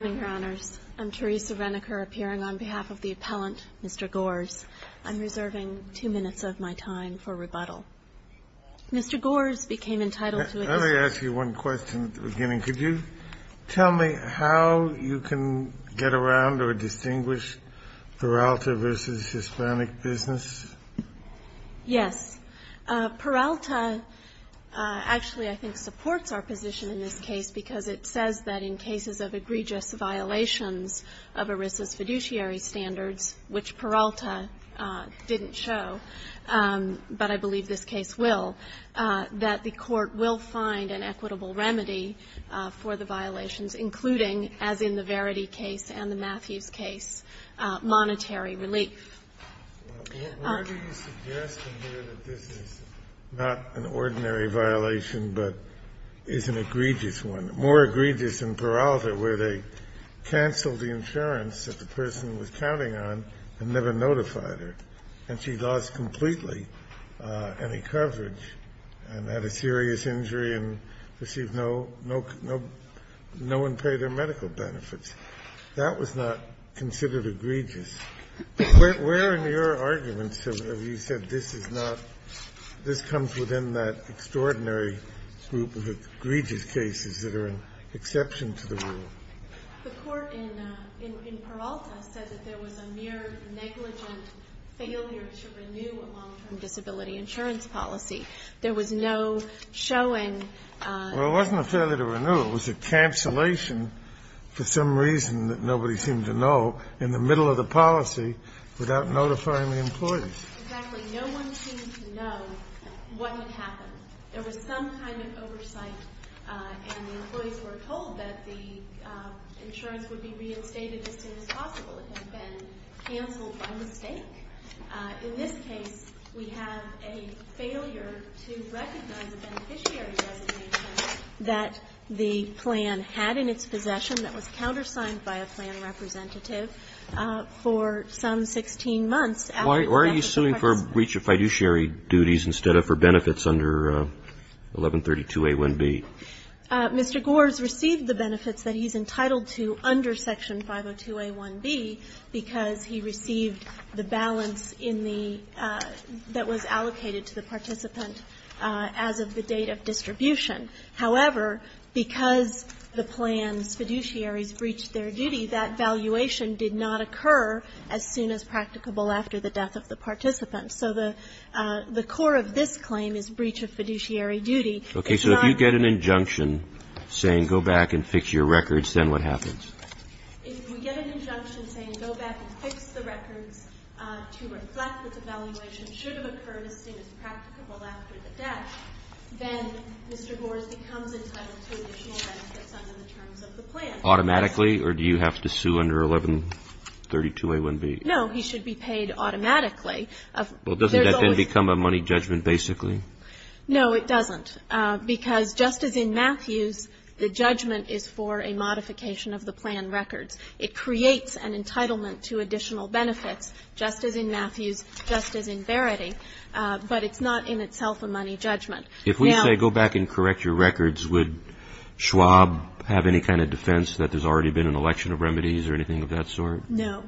Good evening, Your Honors. I'm Teresa Reniker, appearing on behalf of the appellant, Mr. Gores. I'm reserving two minutes of my time for rebuttal. Mr. Gores became entitled to- Let me ask you one question at the beginning. Could you tell me how you can get around or distinguish Peralta v. Hispanic Business? Yes. Peralta actually, I think, supports our position in this case because it says that in cases of egregious violations of ERISA's fiduciary standards, which Peralta didn't show, but I believe this case will, that the court will find an equitable remedy for the violations, including, as in the Verity case and the Matthews case, monetary relief. Why do you suggest in here that this is not an ordinary violation but is an egregious one, more egregious than Peralta, where they canceled the insurance that the person was counting on and never notified her, and she lost completely any coverage and had a serious injury and received no, no one paid her medical benefits? That was not considered egregious. Where in your arguments have you said this is not, this comes within that extraordinary group of egregious cases that are an exception to the rule? The court in Peralta says that there was a mere negligent failure to renew a long-term disability insurance policy. There was no showing- Well, it wasn't a failure to renew. It was a cancellation for some reason that nobody seemed to know in the middle of the policy without notifying the employees. Exactly. No one seemed to know what had happened. There was some kind of oversight, and the employees were told that the insurance would be reinstated as soon as possible. It had been canceled by mistake. In this case, we have a failure to recognize a beneficiary designation that the plan had in its possession that was countersigned by a plan representative for some 16 months. Why are you suing for breach of fiduciary duties instead of for benefits under 1132A1B? Mr. Gores received the benefits that he's entitled to under Section 502A1B because he received the balance in the – that was allocated to the participant as of the date of distribution. However, because the plan's fiduciaries breached their duty, that valuation did not occur as soon as practicable after the death of the participant. So the core of this claim is breach of fiduciary duty. It's not- Okay. So if you get an injunction saying go back and fix your records, then what happens? If we get an injunction saying go back and fix the records to reflect that the valuation should have occurred as soon as practicable after the death, then Mr. Gores becomes entitled to additional benefits under the terms of the plan. Automatically? Or do you have to sue under 1132A1B? No. He should be paid automatically. Well, doesn't that then become a money judgment basically? No, it doesn't. Because just as in Matthews, the judgment is for a modification of the plan records. It creates an entitlement to additional benefits, just as in Matthews, just as in Verity. But it's not in itself a money judgment. Now- If we say go back and correct your records, would Schwab have any kind of defense that there's already been an election of remedies or anything of that sort? No,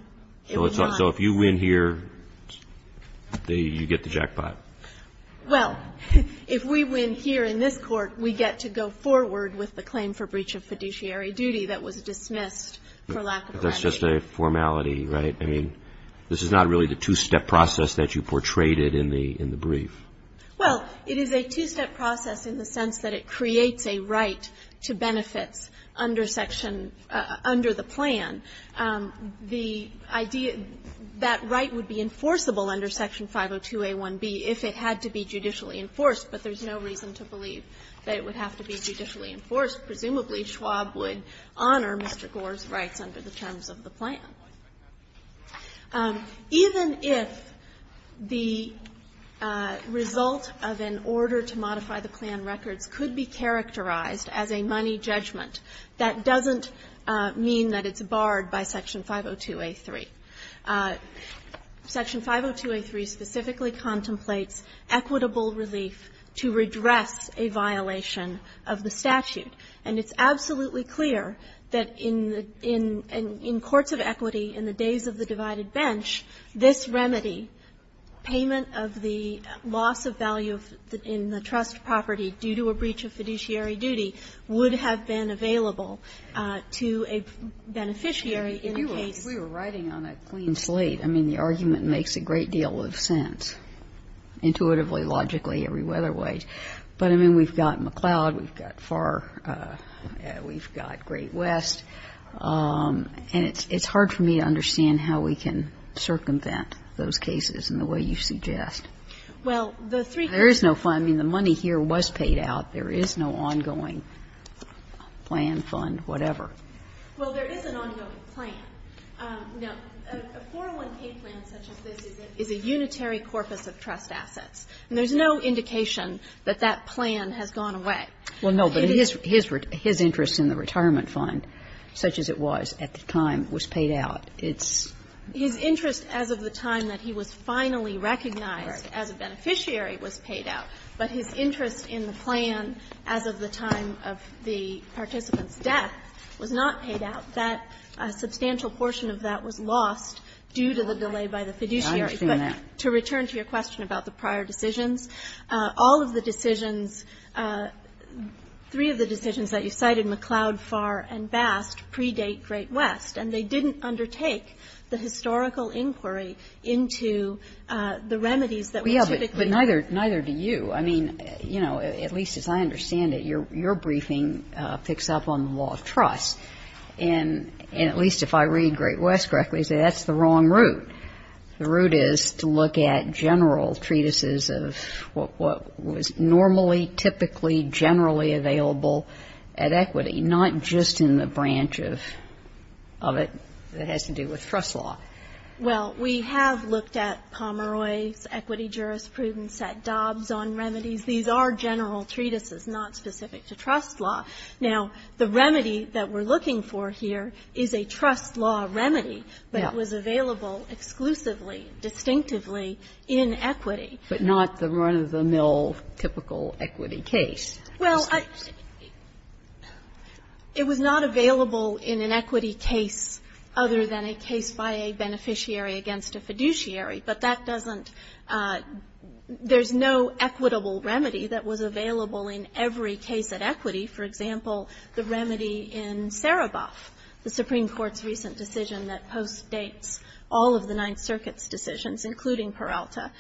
it would not. So if you win here, you get the jackpot. Well, if we win here in this Court, we get to go forward with the claim for breach of fiduciary duty that was dismissed for lack of remedy. That's just a formality, right? I mean, this is not really the two-step process that you portrayed it in the brief. Well, it is a two-step process in the sense that it creates a right to benefits under section under the plan. The idea that right would be enforceable under section 502a1b if it had to be judicially enforced, but there's no reason to believe that it would have to be judicially Presumably, Schwab would honor Mr. Gore's rights under the terms of the plan. Even if the result of an order to modify the plan records could be characterized as a money judgment, that doesn't mean that it's barred by section 502a3. Section 502a3 specifically contemplates equitable relief to redress a violation of the statute, and it's absolutely clear that in courts of equity in the days of the divided bench, this remedy, payment of the loss of value in the trust property due to a breach of fiduciary duty would have been available to a beneficiary in the case. If we were riding on a clean slate, I mean, the argument makes a great deal of sense, intuitively, logically, every other way. But, I mean, we've got McLeod, we've got Farr, we've got Great West, and it's hard for me to understand how we can circumvent those cases in the way you suggest. Well, the three cases. There is no fund. I mean, the money here was paid out. There is no ongoing plan, fund, whatever. Well, there is an ongoing plan. Now, a 401k plan such as this is a unitary corpus of trust assets. And there's no indication that that plan has gone away. Well, no, but his interest in the retirement fund, such as it was at the time, was paid out. It's not. His interest as of the time that he was finally recognized as a beneficiary was paid out. But his interest in the plan as of the time of the participant's death was not paid out. That substantial portion of that was lost due to the delay by the fiduciary. I understand that. But to return to your question about the prior decisions, all of the decisions – three of the decisions that you cited, McLeod, Farr, and Bast, predate Great West, and they didn't undertake the historical inquiry into the remedies that were typically used. Yeah, but neither do you. I mean, you know, at least as I understand it, your briefing picks up on the law of trust. And at least if I read Great West correctly, I say that's the wrong route. The route is to look at general treatises of what was normally, typically, generally available at equity, not just in the branch of it that has to do with trust law. Well, we have looked at Pomeroy's equity jurisprudence, at Dobbs on remedies. These are general treatises, not specific to trust law. Now, the remedy that we're looking for here is a trust law remedy, but it was available exclusively, distinctively, in equity. But not the run-of-the-mill, typical equity case. Well, it was not available in an equity case other than a case by a beneficiary against a fiduciary, but that doesn't – there's no equitable remedy that was available in every case at equity. For example, the remedy in Sereboff, the Supreme Court's recent decision that postdates all of the Ninth Circuit's decisions, including Peralta.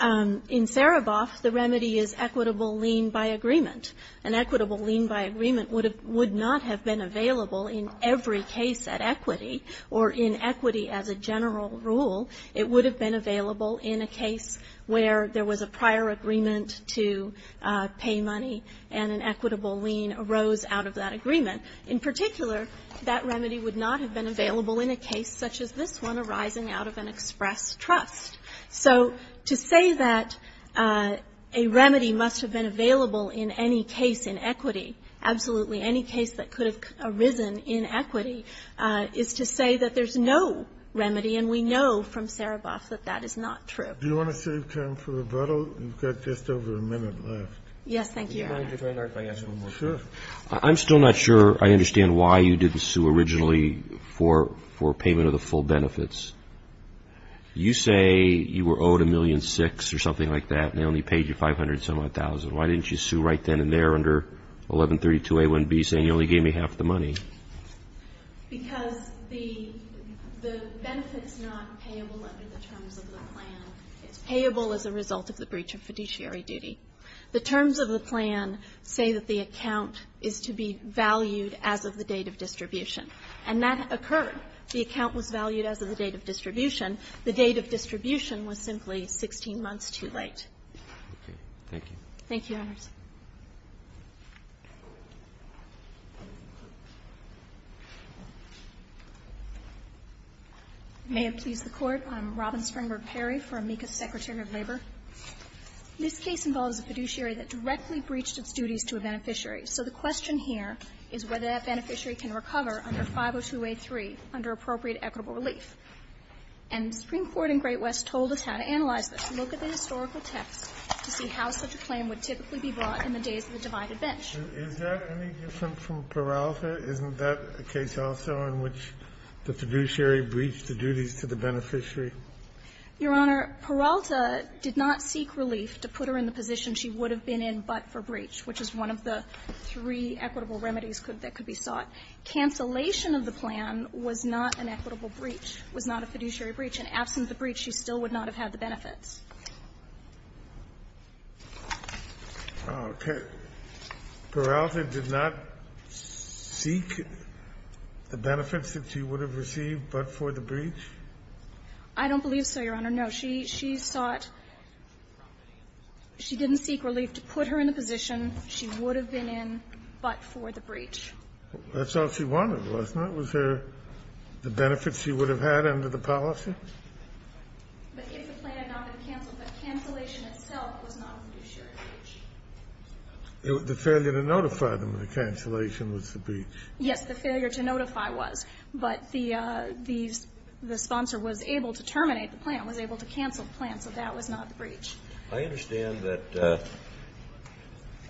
In Sereboff, the remedy is equitable lien by agreement. An equitable lien by agreement would not have been available in every case at equity or in equity as a general rule. It would have been available in a case where there was a prior agreement to pay money and an equitable lien arose out of that agreement. In particular, that remedy would not have been available in a case such as this one arising out of an express trust. So to say that a remedy must have been available in any case in equity, absolutely any case that could have arisen in equity, is to say that there's no remedy and we know from Sereboff that that is not true. Do you want to save time for rebuttal? You've got just over a minute left. Yes, thank you, Your Honor. Would you mind if I ask one more question? Sure. I'm still not sure I understand why you didn't sue originally for payment of the full benefits. You say you were owed $1.6 million or something like that and they only paid you $500,000. Why didn't you sue right then and there under 1132a1b saying you only gave me half the money? Because the benefits are not payable under the terms of the plan. It's payable as a result of the breach of fiduciary duty. The terms of the plan say that the account is to be valued as of the date of distribution, and that occurred. The account was valued as of the date of distribution. The date of distribution was simply 16 months too late. Okay. Thank you. Thank you, Your Honors. May it please the Court. I'm Robin Springberg-Perry for Amica Secretary of Labor. This case involves a fiduciary that directly breached its duties to a beneficiary. So the question here is whether that beneficiary can recover under 502a3 under appropriate equitable relief. And the Supreme Court in Great West told us how to analyze this. Look at the historical text to see how such a claim would typically be brought in the days of the divided bench. Is that any different from Peralta? Isn't that a case also in which the fiduciary breached the duties to the beneficiary? Your Honor, Peralta did not seek relief to put her in the position she would have been in but for breach, which is one of the three equitable remedies that could be sought. Cancellation of the plan was not an equitable breach. It was not a fiduciary breach. And absent the breach, she still would not have had the benefits. Okay. Peralta did not seek the benefits that she would have received but for the breach? I don't believe so, Your Honor. No. She sought, she didn't seek relief to put her in the position she would have been in but for the breach. That's all she wanted, wasn't it? Was there the benefits she would have had under the policy? But if the plan had not been canceled, the cancellation itself was not a fiduciary breach. The failure to notify them of the cancellation was the breach. Yes, the failure to notify was. But the sponsor was able to terminate the plan, was able to cancel the plan, so that was not the breach. I understand that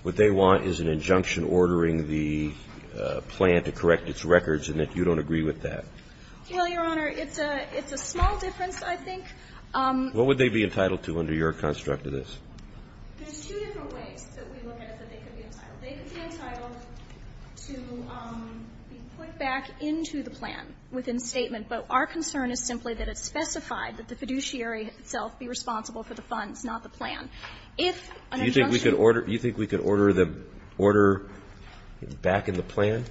what they want is an injunction ordering the plan to correct its records and that you don't agree with that. Well, Your Honor, it's a small difference, I think. What would they be entitled to under your construct of this? There's two different ways that we look at it that they could be entitled. They could be entitled to be put back into the plan within statement, but our concern is simply that it's specified that the fiduciary itself be responsible for the funds, not the plan. Do you think we could order the order back in the plan?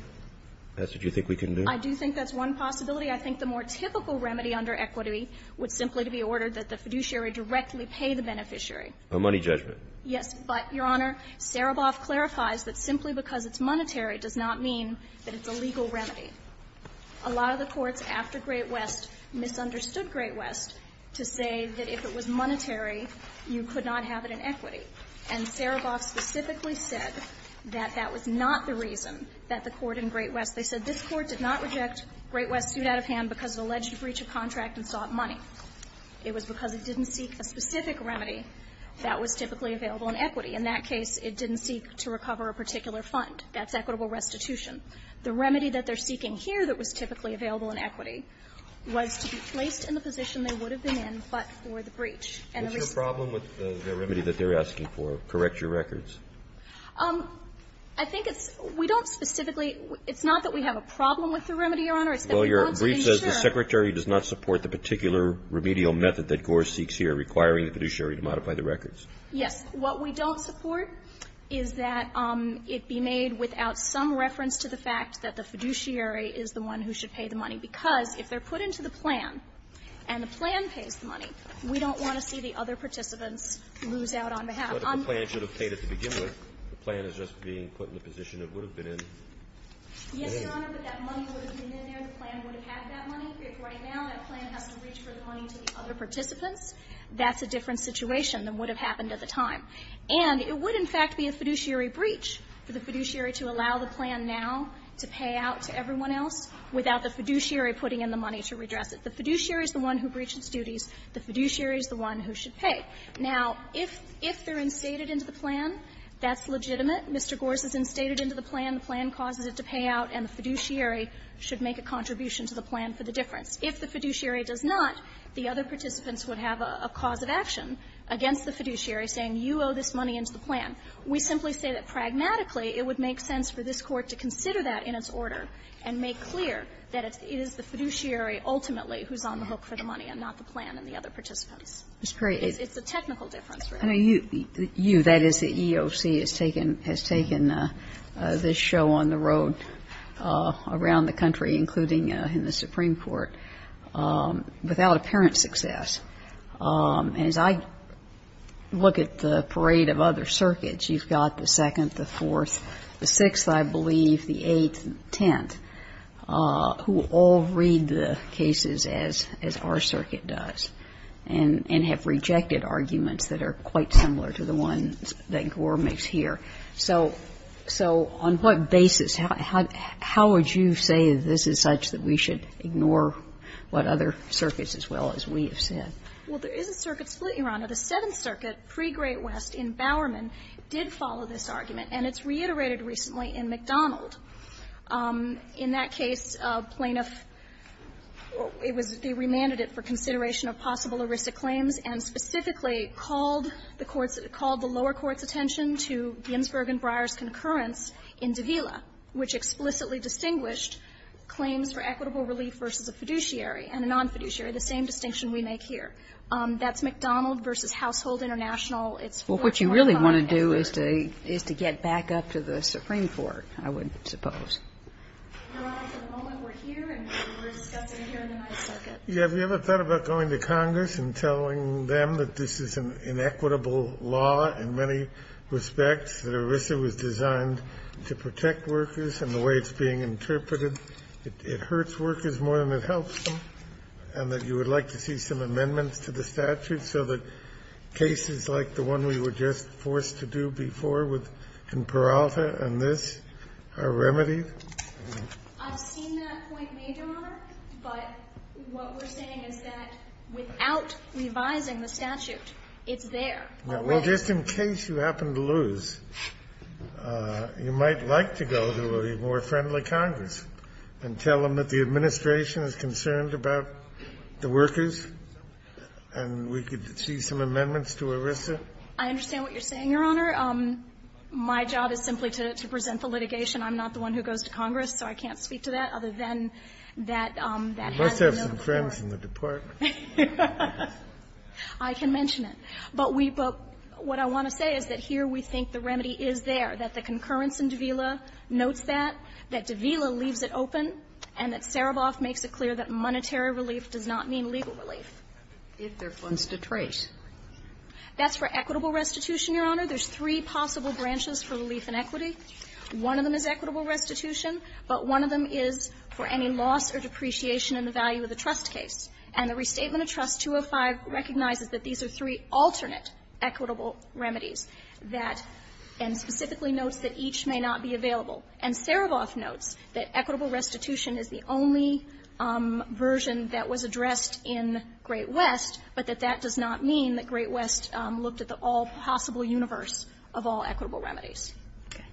That's what you think we can do? I do think that's one possibility. I think the more typical remedy under equity would simply to be ordered that the fiduciary directly pay the beneficiary. A money judgment. But, Your Honor, Sereboff clarifies that simply because it's monetary does not mean that it's a legal remedy. A lot of the courts after Great West misunderstood Great West to say that if it was monetary, you could not have it in equity. And Sereboff specifically said that that was not the reason that the court in Great West they said this court did not reject Great West's suit out of hand because of alleged breach of contract and sought money. It was because it didn't seek a specific remedy that was typically available in equity. In that case, it didn't seek to recover a particular fund. That's equitable restitution. The remedy that they're seeking here that was typically available in equity was to be placed in the position they would have been in, but for the breach. And the reason why they're asking for, correct your records. I think it's we don't specifically, it's not that we have a problem with the remedy, Your Honor. Well, your brief says the Secretary does not support the particular remedial method that Gore seeks here, requiring the fiduciary to modify the records. Yes. What we don't support is that it be made without some reference to the fact that the fiduciary is the one who should pay the money, because if they're put into the plan and the plan pays the money, we don't want to see the other participants lose out on behalf. But if the plan should have paid at the beginning, the plan is just being put in the position it would have been in. Yes, Your Honor, but that money would have been in there, the plan would have had that money. If right now that plan has to reach for the money to the other participants, that's a different situation than would have happened at the time. And it would, in fact, be a fiduciary breach for the fiduciary to allow the plan now to pay out to everyone else without the fiduciary putting in the money to redress it. The fiduciary is the one who breached its duties. The fiduciary is the one who should pay. Now, if they're instated into the plan, that's legitimate. Mr. Gorse is instated into the plan, the plan causes it to pay out, and the fiduciary should make a contribution to the plan for the difference. If the fiduciary does not, the other participants would have a cause of action against the fiduciary saying, you owe this money into the plan. We simply say that pragmatically, it would make sense for this Court to consider that in its order and make clear that it is the fiduciary ultimately who's on the hook for the money and not the plan and the other participants. It's a technical difference. I know you, that is the EOC, has taken this show on the road around the country, including in the Supreme Court, without apparent success. And as I look at the parade of other circuits, you've got the Second, the Fourth, the Sixth, I believe, the Eighth, the Tenth, who all read the cases as our circuit does and have rejected arguments that are quite similar to the ones that Gorse makes here. So on what basis, how would you say that this is such that we should ignore what other circuits as well as we have said? Well, there is a circuit split, Your Honor. The Seventh Circuit pre-Great West in Bowerman did follow this argument, and it's reiterated recently in McDonald. In that case, plaintiff, it was they remanded it for consideration of possible heuristic claims and specifically called the courts, called the lower courts' attention to Ginsberg and Breyer's concurrence in Davila, which explicitly distinguished claims for equitable relief versus a fiduciary and a non-fiduciary, the same distinction we make here. That's McDonald v. Household International. It's Fort Worth, North Carolina, and Burrard. It's a case that we should look at, and the only way to do that is to get back up to the Supreme Court, I would suppose. Your Honor, for the moment, we're here and we're discussing here in the ninth circuit. Yeah. Have you ever thought about going to Congress and telling them that this is an inequitable law in many respects, that ERISA was designed to protect workers and the way it's being interpreted, it hurts workers more than it helps them, and that you would like to see some amendments to the statute so that cases like the one we were just forced to do before in Peralta and this are remedied? I've seen that point made, Your Honor, but what we're saying is that without revising the statute, it's there already. Well, just in case you happen to lose, you might like to go to a more friendly Congress and tell them that the administration is concerned about the workers and we could see some amendments to ERISA. I understand what you're saying, Your Honor. My job is simply to present the litigation. I'm not the one who goes to Congress, so I can't speak to that other than that has no core. You must have some friends in the department. I can mention it. But we but what I want to say is that here we think the remedy is there, that the concurrence in Davila notes that, that Davila leaves it open, and that Sereboff makes it clear that monetary relief does not mean legal relief. If there are funds to trace. That's for equitable restitution, Your Honor. There's three possible branches for relief and equity. One of them is equitable restitution, but one of them is for any loss or depreciation in the value of the trust case. And the Restatement of Trust 205 recognizes that these are three alternate equitable remedies that and specifically notes that each may not be available. And Sereboff notes that equitable restitution is the only version that was addressed in the Great West, but that that does not mean that Great West looked at the all-possible universe of all equitable remedies. Okay.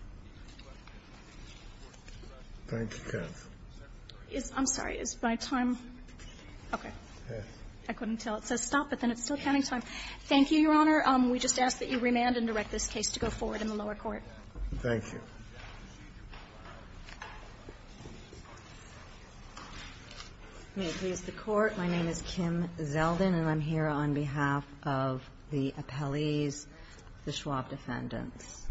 Thank you, counsel. I'm sorry. Is my time? Okay. I couldn't tell. It says stop, but then it's still counting time. Thank you, Your Honor. We just ask that you remand and direct this case to go forward in the lower court. Thank you. May it please the Court. My name is Kim Zeldin, and I'm here on behalf of the appellees, the Schwab defendants.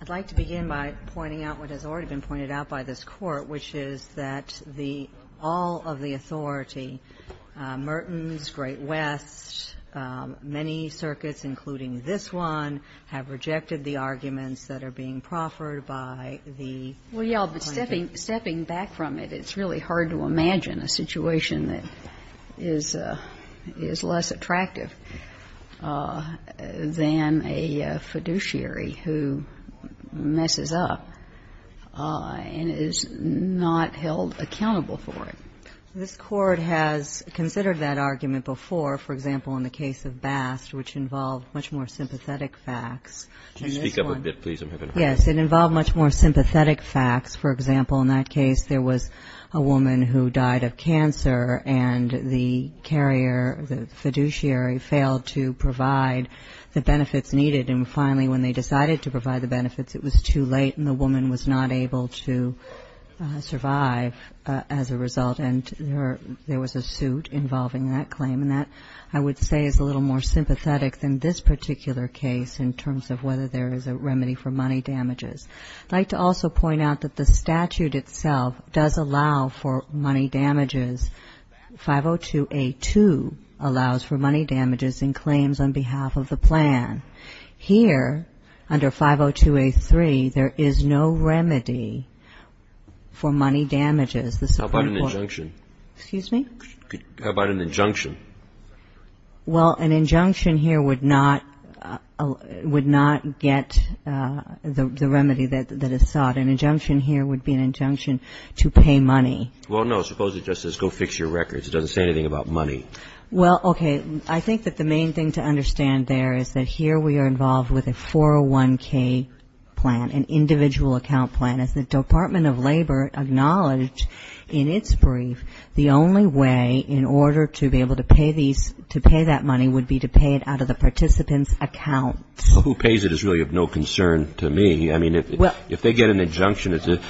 I'd like to begin by pointing out what has already been pointed out by this Court, which is that the all of the authority, Merton's, Great West, many circuits, including this one, have rejected the arguments that are being proffered by the plaintiff. Well, yes, but stepping back from it, it's really hard to imagine a situation that is less attractive than a fiduciary who messes up and is not held accountable for it. This Court has considered that argument before, for example, in the case of Bast, which involved much more sympathetic facts. Can you speak up a bit, please? Yes. It involved much more sympathetic facts. The plaintiff was a carrier, and the carrier, the fiduciary, failed to provide the benefits needed. And finally, when they decided to provide the benefits, it was too late, and the woman was not able to survive as a result. And there was a suit involving that claim. And that, I would say, is a little more sympathetic than this particular case in terms of whether there is a remedy for money damages. I'd like to also point out that the statute itself does allow for money damages. 502A2 allows for money damages in claims on behalf of the plan. Here, under 502A3, there is no remedy for money damages. How about an injunction? Excuse me? How about an injunction? Well, an injunction here would not get the remedy that is sought. An injunction here would be an injunction to pay money. Well, no. Suppose it just says go fix your records. It doesn't say anything about money. Well, okay. I think that the main thing to understand there is that here we are involved with a 401K plan, an individual account plan. And as the Department of Labor acknowledged in its brief, the only way in order to be able to pay these, to pay that money would be to pay it out of the participant's accounts. Well, who pays it is really of no concern to me. I mean, if they get an injunction, if it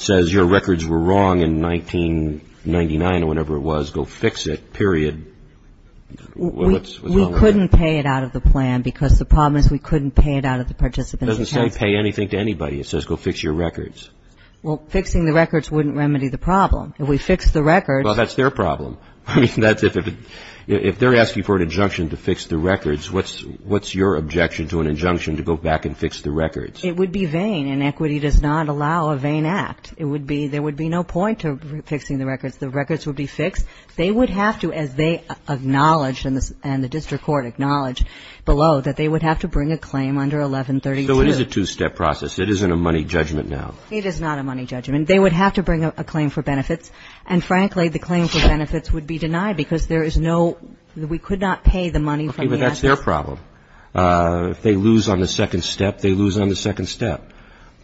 says your records were wrong in 1999 or whenever it was, go fix it, period. We couldn't pay it out of the plan because the problem is we couldn't pay it out of the participant's accounts. It doesn't say pay anything to anybody. It says go fix your records. Well, fixing the records wouldn't remedy the problem. If we fix the records. Well, that's their problem. I mean, that's if they're asking for an injunction to fix the records, what's your objection to an injunction to go back and fix the records? It would be vain. Inequity does not allow a vain act. It would be, there would be no point to fixing the records. The records would be fixed. They would have to, as they acknowledged and the district court acknowledged below, that they would have to bring a claim under 1132. So it is a two-step process. It isn't a money judgment now. It is not a money judgment. They would have to bring a claim for benefits. And frankly, the claim for benefits would be denied because there is no, we could not pay the money from the assets. Okay, but that's their problem. If they lose on the second step, they lose on the second step.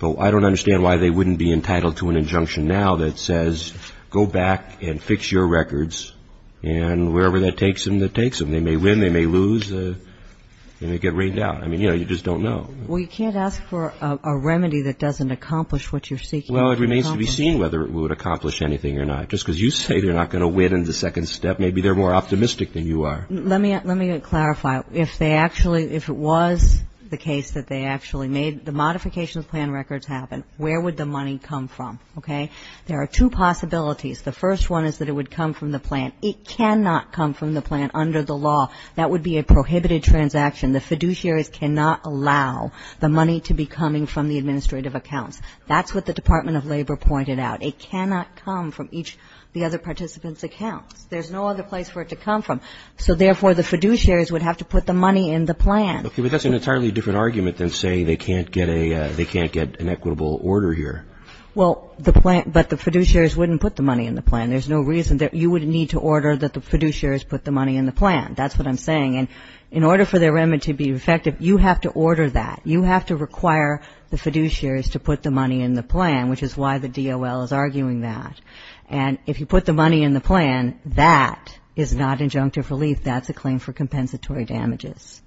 But I don't understand why they wouldn't be entitled to an injunction now that says go back and fix your records, and wherever that takes them, that takes them. They may win, they may lose, and they get rained out. I mean, you know, you just don't know. Well, you can't ask for a remedy that doesn't accomplish what you're seeking. Well, it remains to be seen whether it would accomplish anything or not. Just because you say they're not going to win in the second step, maybe they're more optimistic than you are. Let me clarify. If they actually, if it was the case that they actually made the modification of plan records happen, where would the money come from? Okay. There are two possibilities. The first one is that it would come from the plant. It cannot come from the plant under the law. That would be a prohibited transaction. The fiduciaries cannot allow the money to be coming from the administrative accounts. That's what the Department of Labor pointed out. It cannot come from each of the other participants' accounts. There's no other place for it to come from. So, therefore, the fiduciaries would have to put the money in the plan. Okay. But that's an entirely different argument than saying they can't get a, they can't get an equitable order here. Well, the plant, but the fiduciaries wouldn't put the money in the plan. There's no reason that you would need to order that the fiduciaries put the money in the plan. That's what I'm saying. And in order for the amendment to be effective, you have to order that. You have to require the fiduciaries to put the money in the plan, which is why the DOL is arguing that. And if you put the money in the plan, that is not injunctive relief. That's a claim for compensatory damages.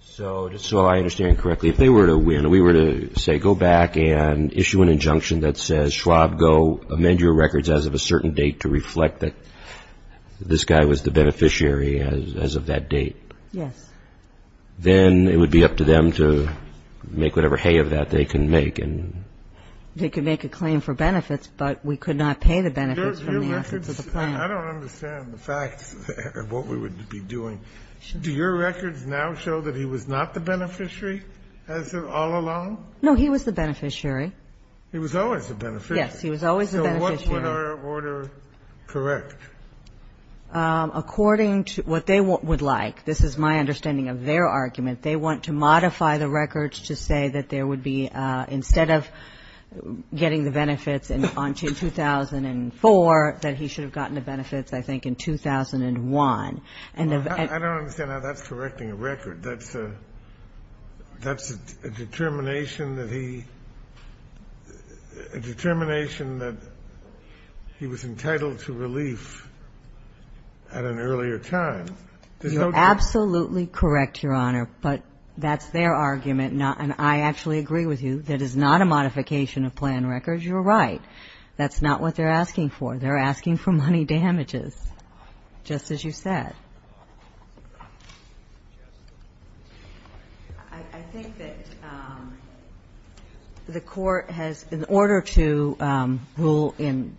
So, just so I understand correctly, if they were to win, we were to say go back and issue an injunction that says Schwab, go amend your records as of a certain date to reflect that this guy was the beneficiary as of that date. Yes. Then it would be up to them to make whatever hay of that they can make. They could make a claim for benefits, but we could not pay the benefits from the assets of the plant. I don't understand the facts of what we would be doing. Do your records now show that he was not the beneficiary as of all along? No, he was the beneficiary. He was always the beneficiary. Yes, he was always the beneficiary. So what would our order correct? According to what they would like. This is my understanding of their argument. They want to modify the records to say that there would be, instead of getting the benefits in 2004, that he should have gotten the benefits, I think, in 2001. I don't understand how that's correcting a record. That's a determination that he was entitled to relief at an earlier time. You're absolutely correct, Your Honor, but that's their argument. And I actually agree with you. That is not a modification of plan records. You're right. That's not what they're asking for. They're asking for money damages, just as you said. I think that the Court has, in order to rule in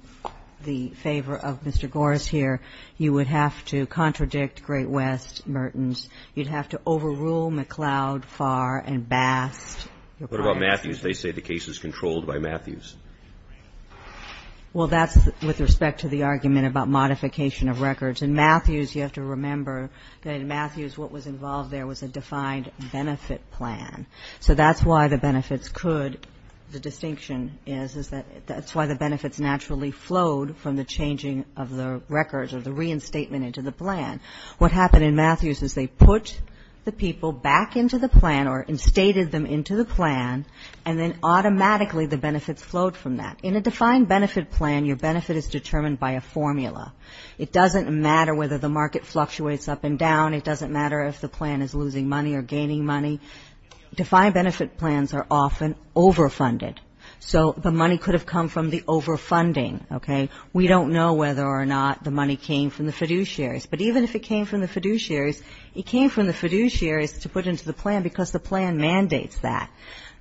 the favor of Mr. Gores here, you would have to contradict Great West, Mertens. You'd have to overrule McLeod, Farr, and Bast. What about Matthews? They say the case is controlled by Matthews. Well, that's with respect to the argument about modification of records. In Matthews, you have to remember that in Matthews what was involved there was a defined benefit plan. So that's why the benefits could, the distinction is, is that that's why the benefits naturally flowed from the changing of the records or the reinstatement into the plan. What happened in Matthews is they put the people back into the plan or instated them into the plan, and then automatically the benefits flowed from that. In a defined benefit plan, your benefit is determined by a formula. It doesn't matter whether the market fluctuates up and down. It doesn't matter if the plan is losing money or gaining money. Defined benefit plans are often overfunded. So the money could have come from the overfunding, okay? We don't know whether or not the money came from the fiduciaries, but even if it came from the fiduciaries, it came from the fiduciaries to put into the plan because the plan mandates that,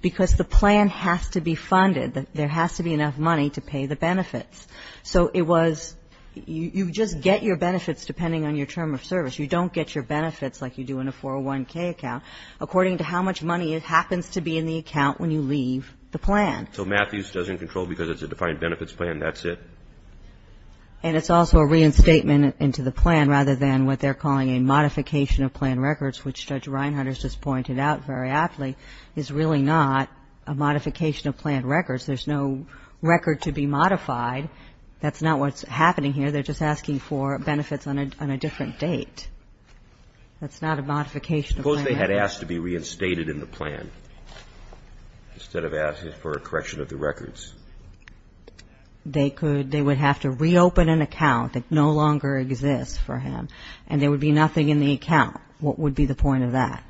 because the plan has to be funded. There has to be enough money to pay the benefits. So it was, you just get your benefits depending on your term of service. You don't get your benefits like you do in a 401K account, according to how much money happens to be in the account when you leave the plan. So Matthews doesn't control because it's a defined benefits plan, that's it? And it's also a reinstatement into the plan rather than what they're calling a modification of plan records, which Judge Reinhardt has just pointed out very aptly, is really not a modification of plan records. There's no record to be modified. That's not what's happening here. They're just asking for benefits on a different date. That's not a modification of plan records. Suppose they had asked to be reinstated in the plan instead of asking for a correction of the records. They could. They would have to reopen an account that no longer exists for him, and there would be nothing in the account. What would be the point of that?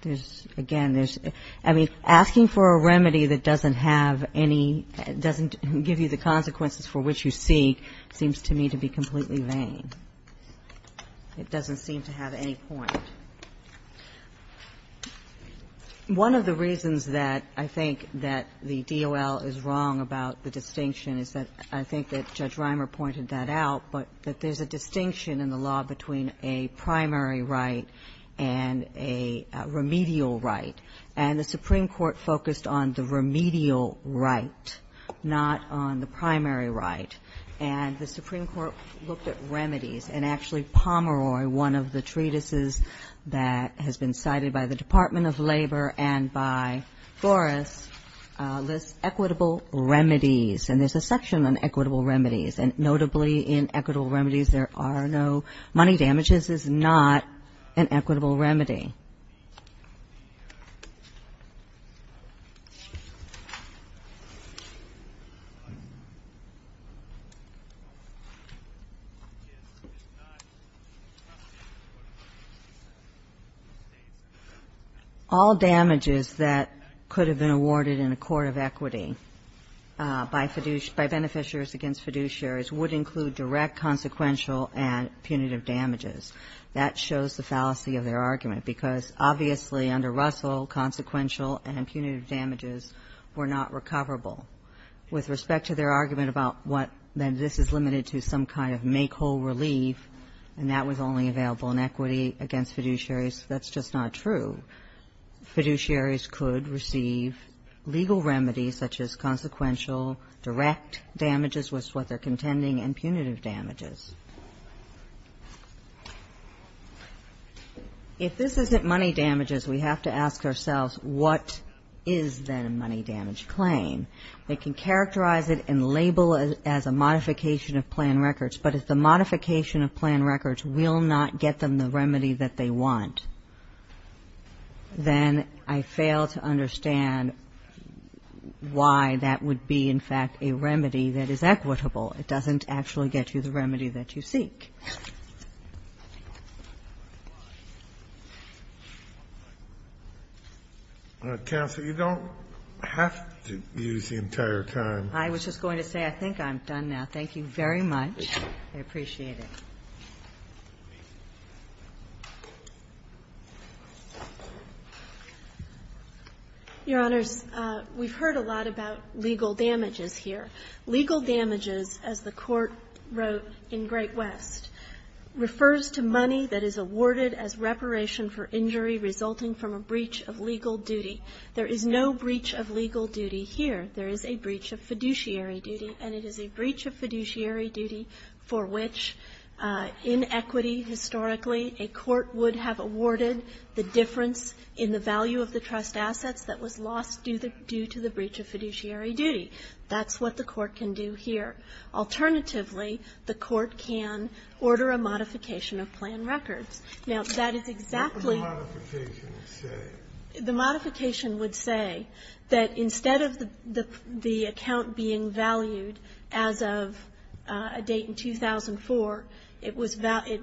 There's, again, there's, I mean, asking for a remedy that doesn't have any, doesn't give you the consequences for which you seek seems to me to be completely vain. It doesn't seem to have any point. One of the reasons that I think that the DOL is wrong about the distinction is that I think that Judge Reimer pointed that out, but that there's a distinction in the law between a primary right and a remedial right. And the Supreme Court focused on the remedial right, not on the primary right. And the Supreme Court looked at remedies. And actually, Pomeroy, one of the treatises that has been cited by the Department of Labor and by Flores lists equitable remedies. And there's a section on equitable remedies. And notably in equitable remedies, there are no money damages is not an equitable remedy. All damages that could have been awarded in a court of equity by beneficiaries against fiduciary would include direct consequential and punitive damages. That shows the fallacy of their argument, because obviously under Russell, consequential and punitive damages were not recoverable. With respect to their argument about what, that this is limited to some kind of make-whole relief, and that was only available in equity against fiduciaries, that's just not true. Fiduciaries could receive legal remedies such as consequential direct damages with what they're contending and punitive damages. If this isn't money damages, we have to ask ourselves, what is then a money damage claim? They can characterize it and label it as a modification of plan records, but if the modification of plan records will not get them the remedy that they want, then I fail to understand why that would be, in fact, a remedy that is equitable. It doesn't actually get you the remedy that you seek. Kennedy, you don't have to use the entire time. I was just going to say I think I'm done now. Thank you very much. I appreciate it. Your Honors, we've heard a lot about legal damages here. Legal damages, as the Court wrote in Great West, refers to money that is awarded as reparation for injury resulting from a breach of legal duty. There is no breach of legal duty here. There is a breach of fiduciary duty, and it is a breach of fiduciary duty for which in equity, historically, a court would have awarded the difference in the value of the trust assets that was lost due to the breach of fiduciary duty. That's what the court can do here. Alternatively, the court can order a modification of plan records. Now, that is exactly what the modification would say. That instead of the account being valued as of a date in 2004, it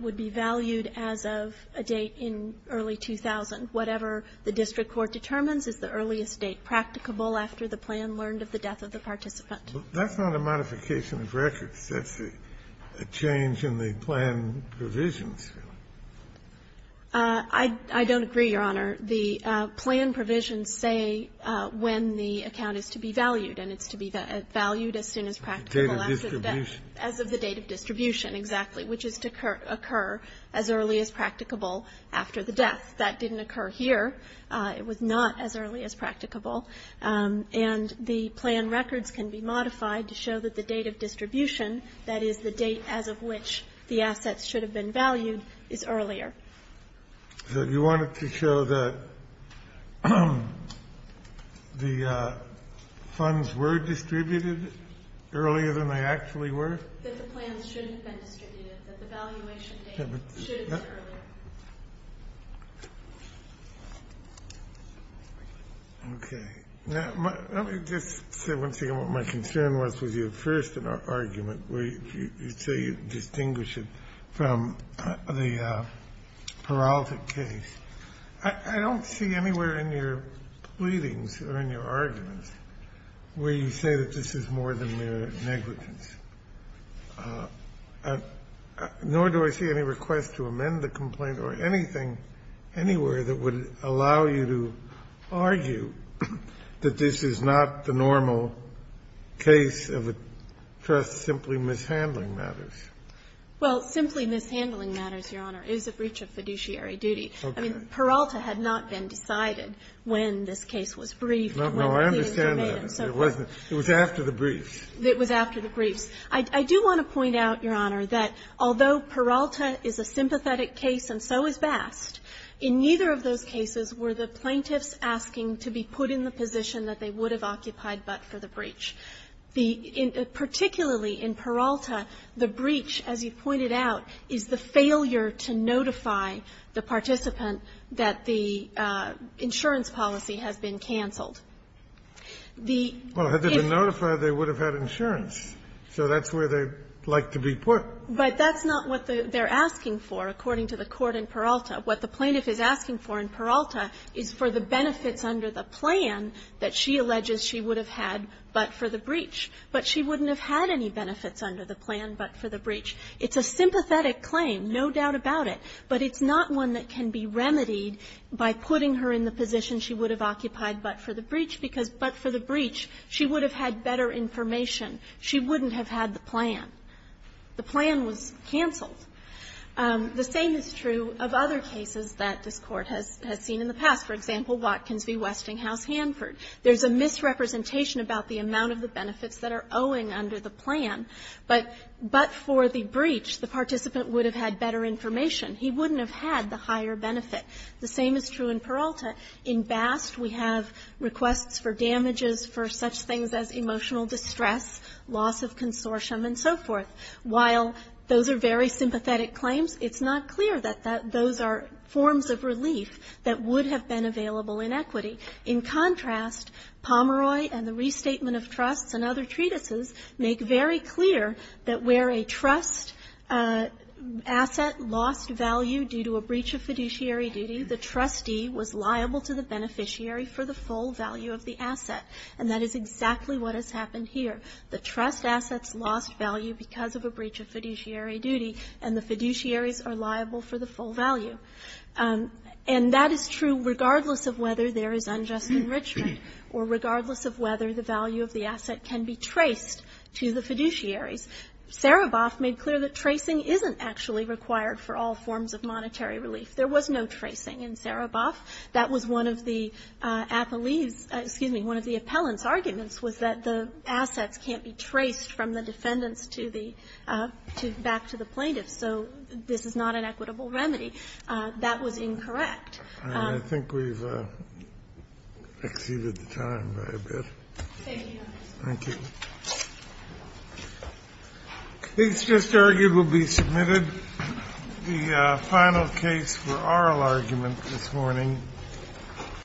would be valued as of a date in early 2000. Whatever the district court determines is the earliest date practicable after the plan learned of the death of the participant. That's not a modification of records. That's a change in the plan provisions. I don't agree, Your Honor. The plan provisions say when the account is to be valued, and it's to be valued as soon as practicable as of the date of distribution, exactly, which is to occur as early as practicable after the death. That didn't occur here. It was not as early as practicable. And the plan records can be modified to show that the date of distribution, that is, the date as of which the assets should have been valued, is earlier. So you want it to show that the funds were distributed earlier than they actually were? That the plans shouldn't have been distributed, that the valuation date should have been earlier. Okay. Let me just say one thing. My concern was with your first argument where you say you distinguish it from the Peralta case. I don't see anywhere in your pleadings or in your arguments where you say that this is more than mere negligence, nor do I see any request to amend the complaint or anything anywhere that would allow you to argue that this is not the normal case of a trust simply mishandling matters. Well, simply mishandling matters, Your Honor. It is a breach of fiduciary duty. Okay. I mean, Peralta had not been decided when this case was briefed. No, I understand that. It wasn't. It was after the briefs. It was after the briefs. I do want to point out, Your Honor, that although Peralta is a sympathetic case and so is Bast, in neither of those cases were the plaintiffs asking to be put in the position that they would have occupied but for the breach. The — particularly in Peralta, the breach, as you pointed out, is the failure to notify the participant that the insurance policy has been canceled. The — Well, had they been notified, they would have had insurance, so that's where they'd like to be put. But that's not what they're asking for, according to the court in Peralta. What the plaintiff is asking for in Peralta is for the benefits under the plan that she alleges she would have had but for the breach. But she wouldn't have had any benefits under the plan but for the breach. It's a sympathetic claim, no doubt about it, but it's not one that can be remedied by putting her in the position she would have occupied but for the breach, because but for the breach, she would have had better information. She wouldn't have had the plan. The plan was canceled. The same is true of other cases that this Court has seen in the past. For example, Watkins v. Westinghouse-Hanford. There's a misrepresentation about the amount of the benefits that are owing under the plan, but for the breach, the participant would have had better information. He wouldn't have had the higher benefit. The same is true in Peralta. In Bast, we have requests for damages for such things as emotional distress, loss of consortium, and so forth. While those are very sympathetic claims, it's not clear that those are forms of relief that would have been available in equity. In contrast, Pomeroy and the restatement of trusts and other treatises make very clear that where a trust asset lost value due to a breach of fiduciary duty, the trustee was liable to the beneficiary for the full value of the asset. And that is exactly what has happened here. The trust assets lost value because of a breach of fiduciary duty, and the fiduciaries are liable for the full value. And that is true regardless of whether there is unjust enrichment or regardless of whether the value of the asset can be traced to the fiduciaries. Sereboff made clear that tracing isn't actually required for all forms of monetary relief. There was no tracing in Sereboff. That was one of the appellee's — excuse me, one of the appellant's arguments was that the assets can't be traced from the defendants to the — back to the plaintiffs. So this is not an equitable remedy. That was incorrect. I think we've exceeded the time by a bit. Thank you, Your Honor. Thank you. The case just argued will be submitted. The final case for oral argument this morning.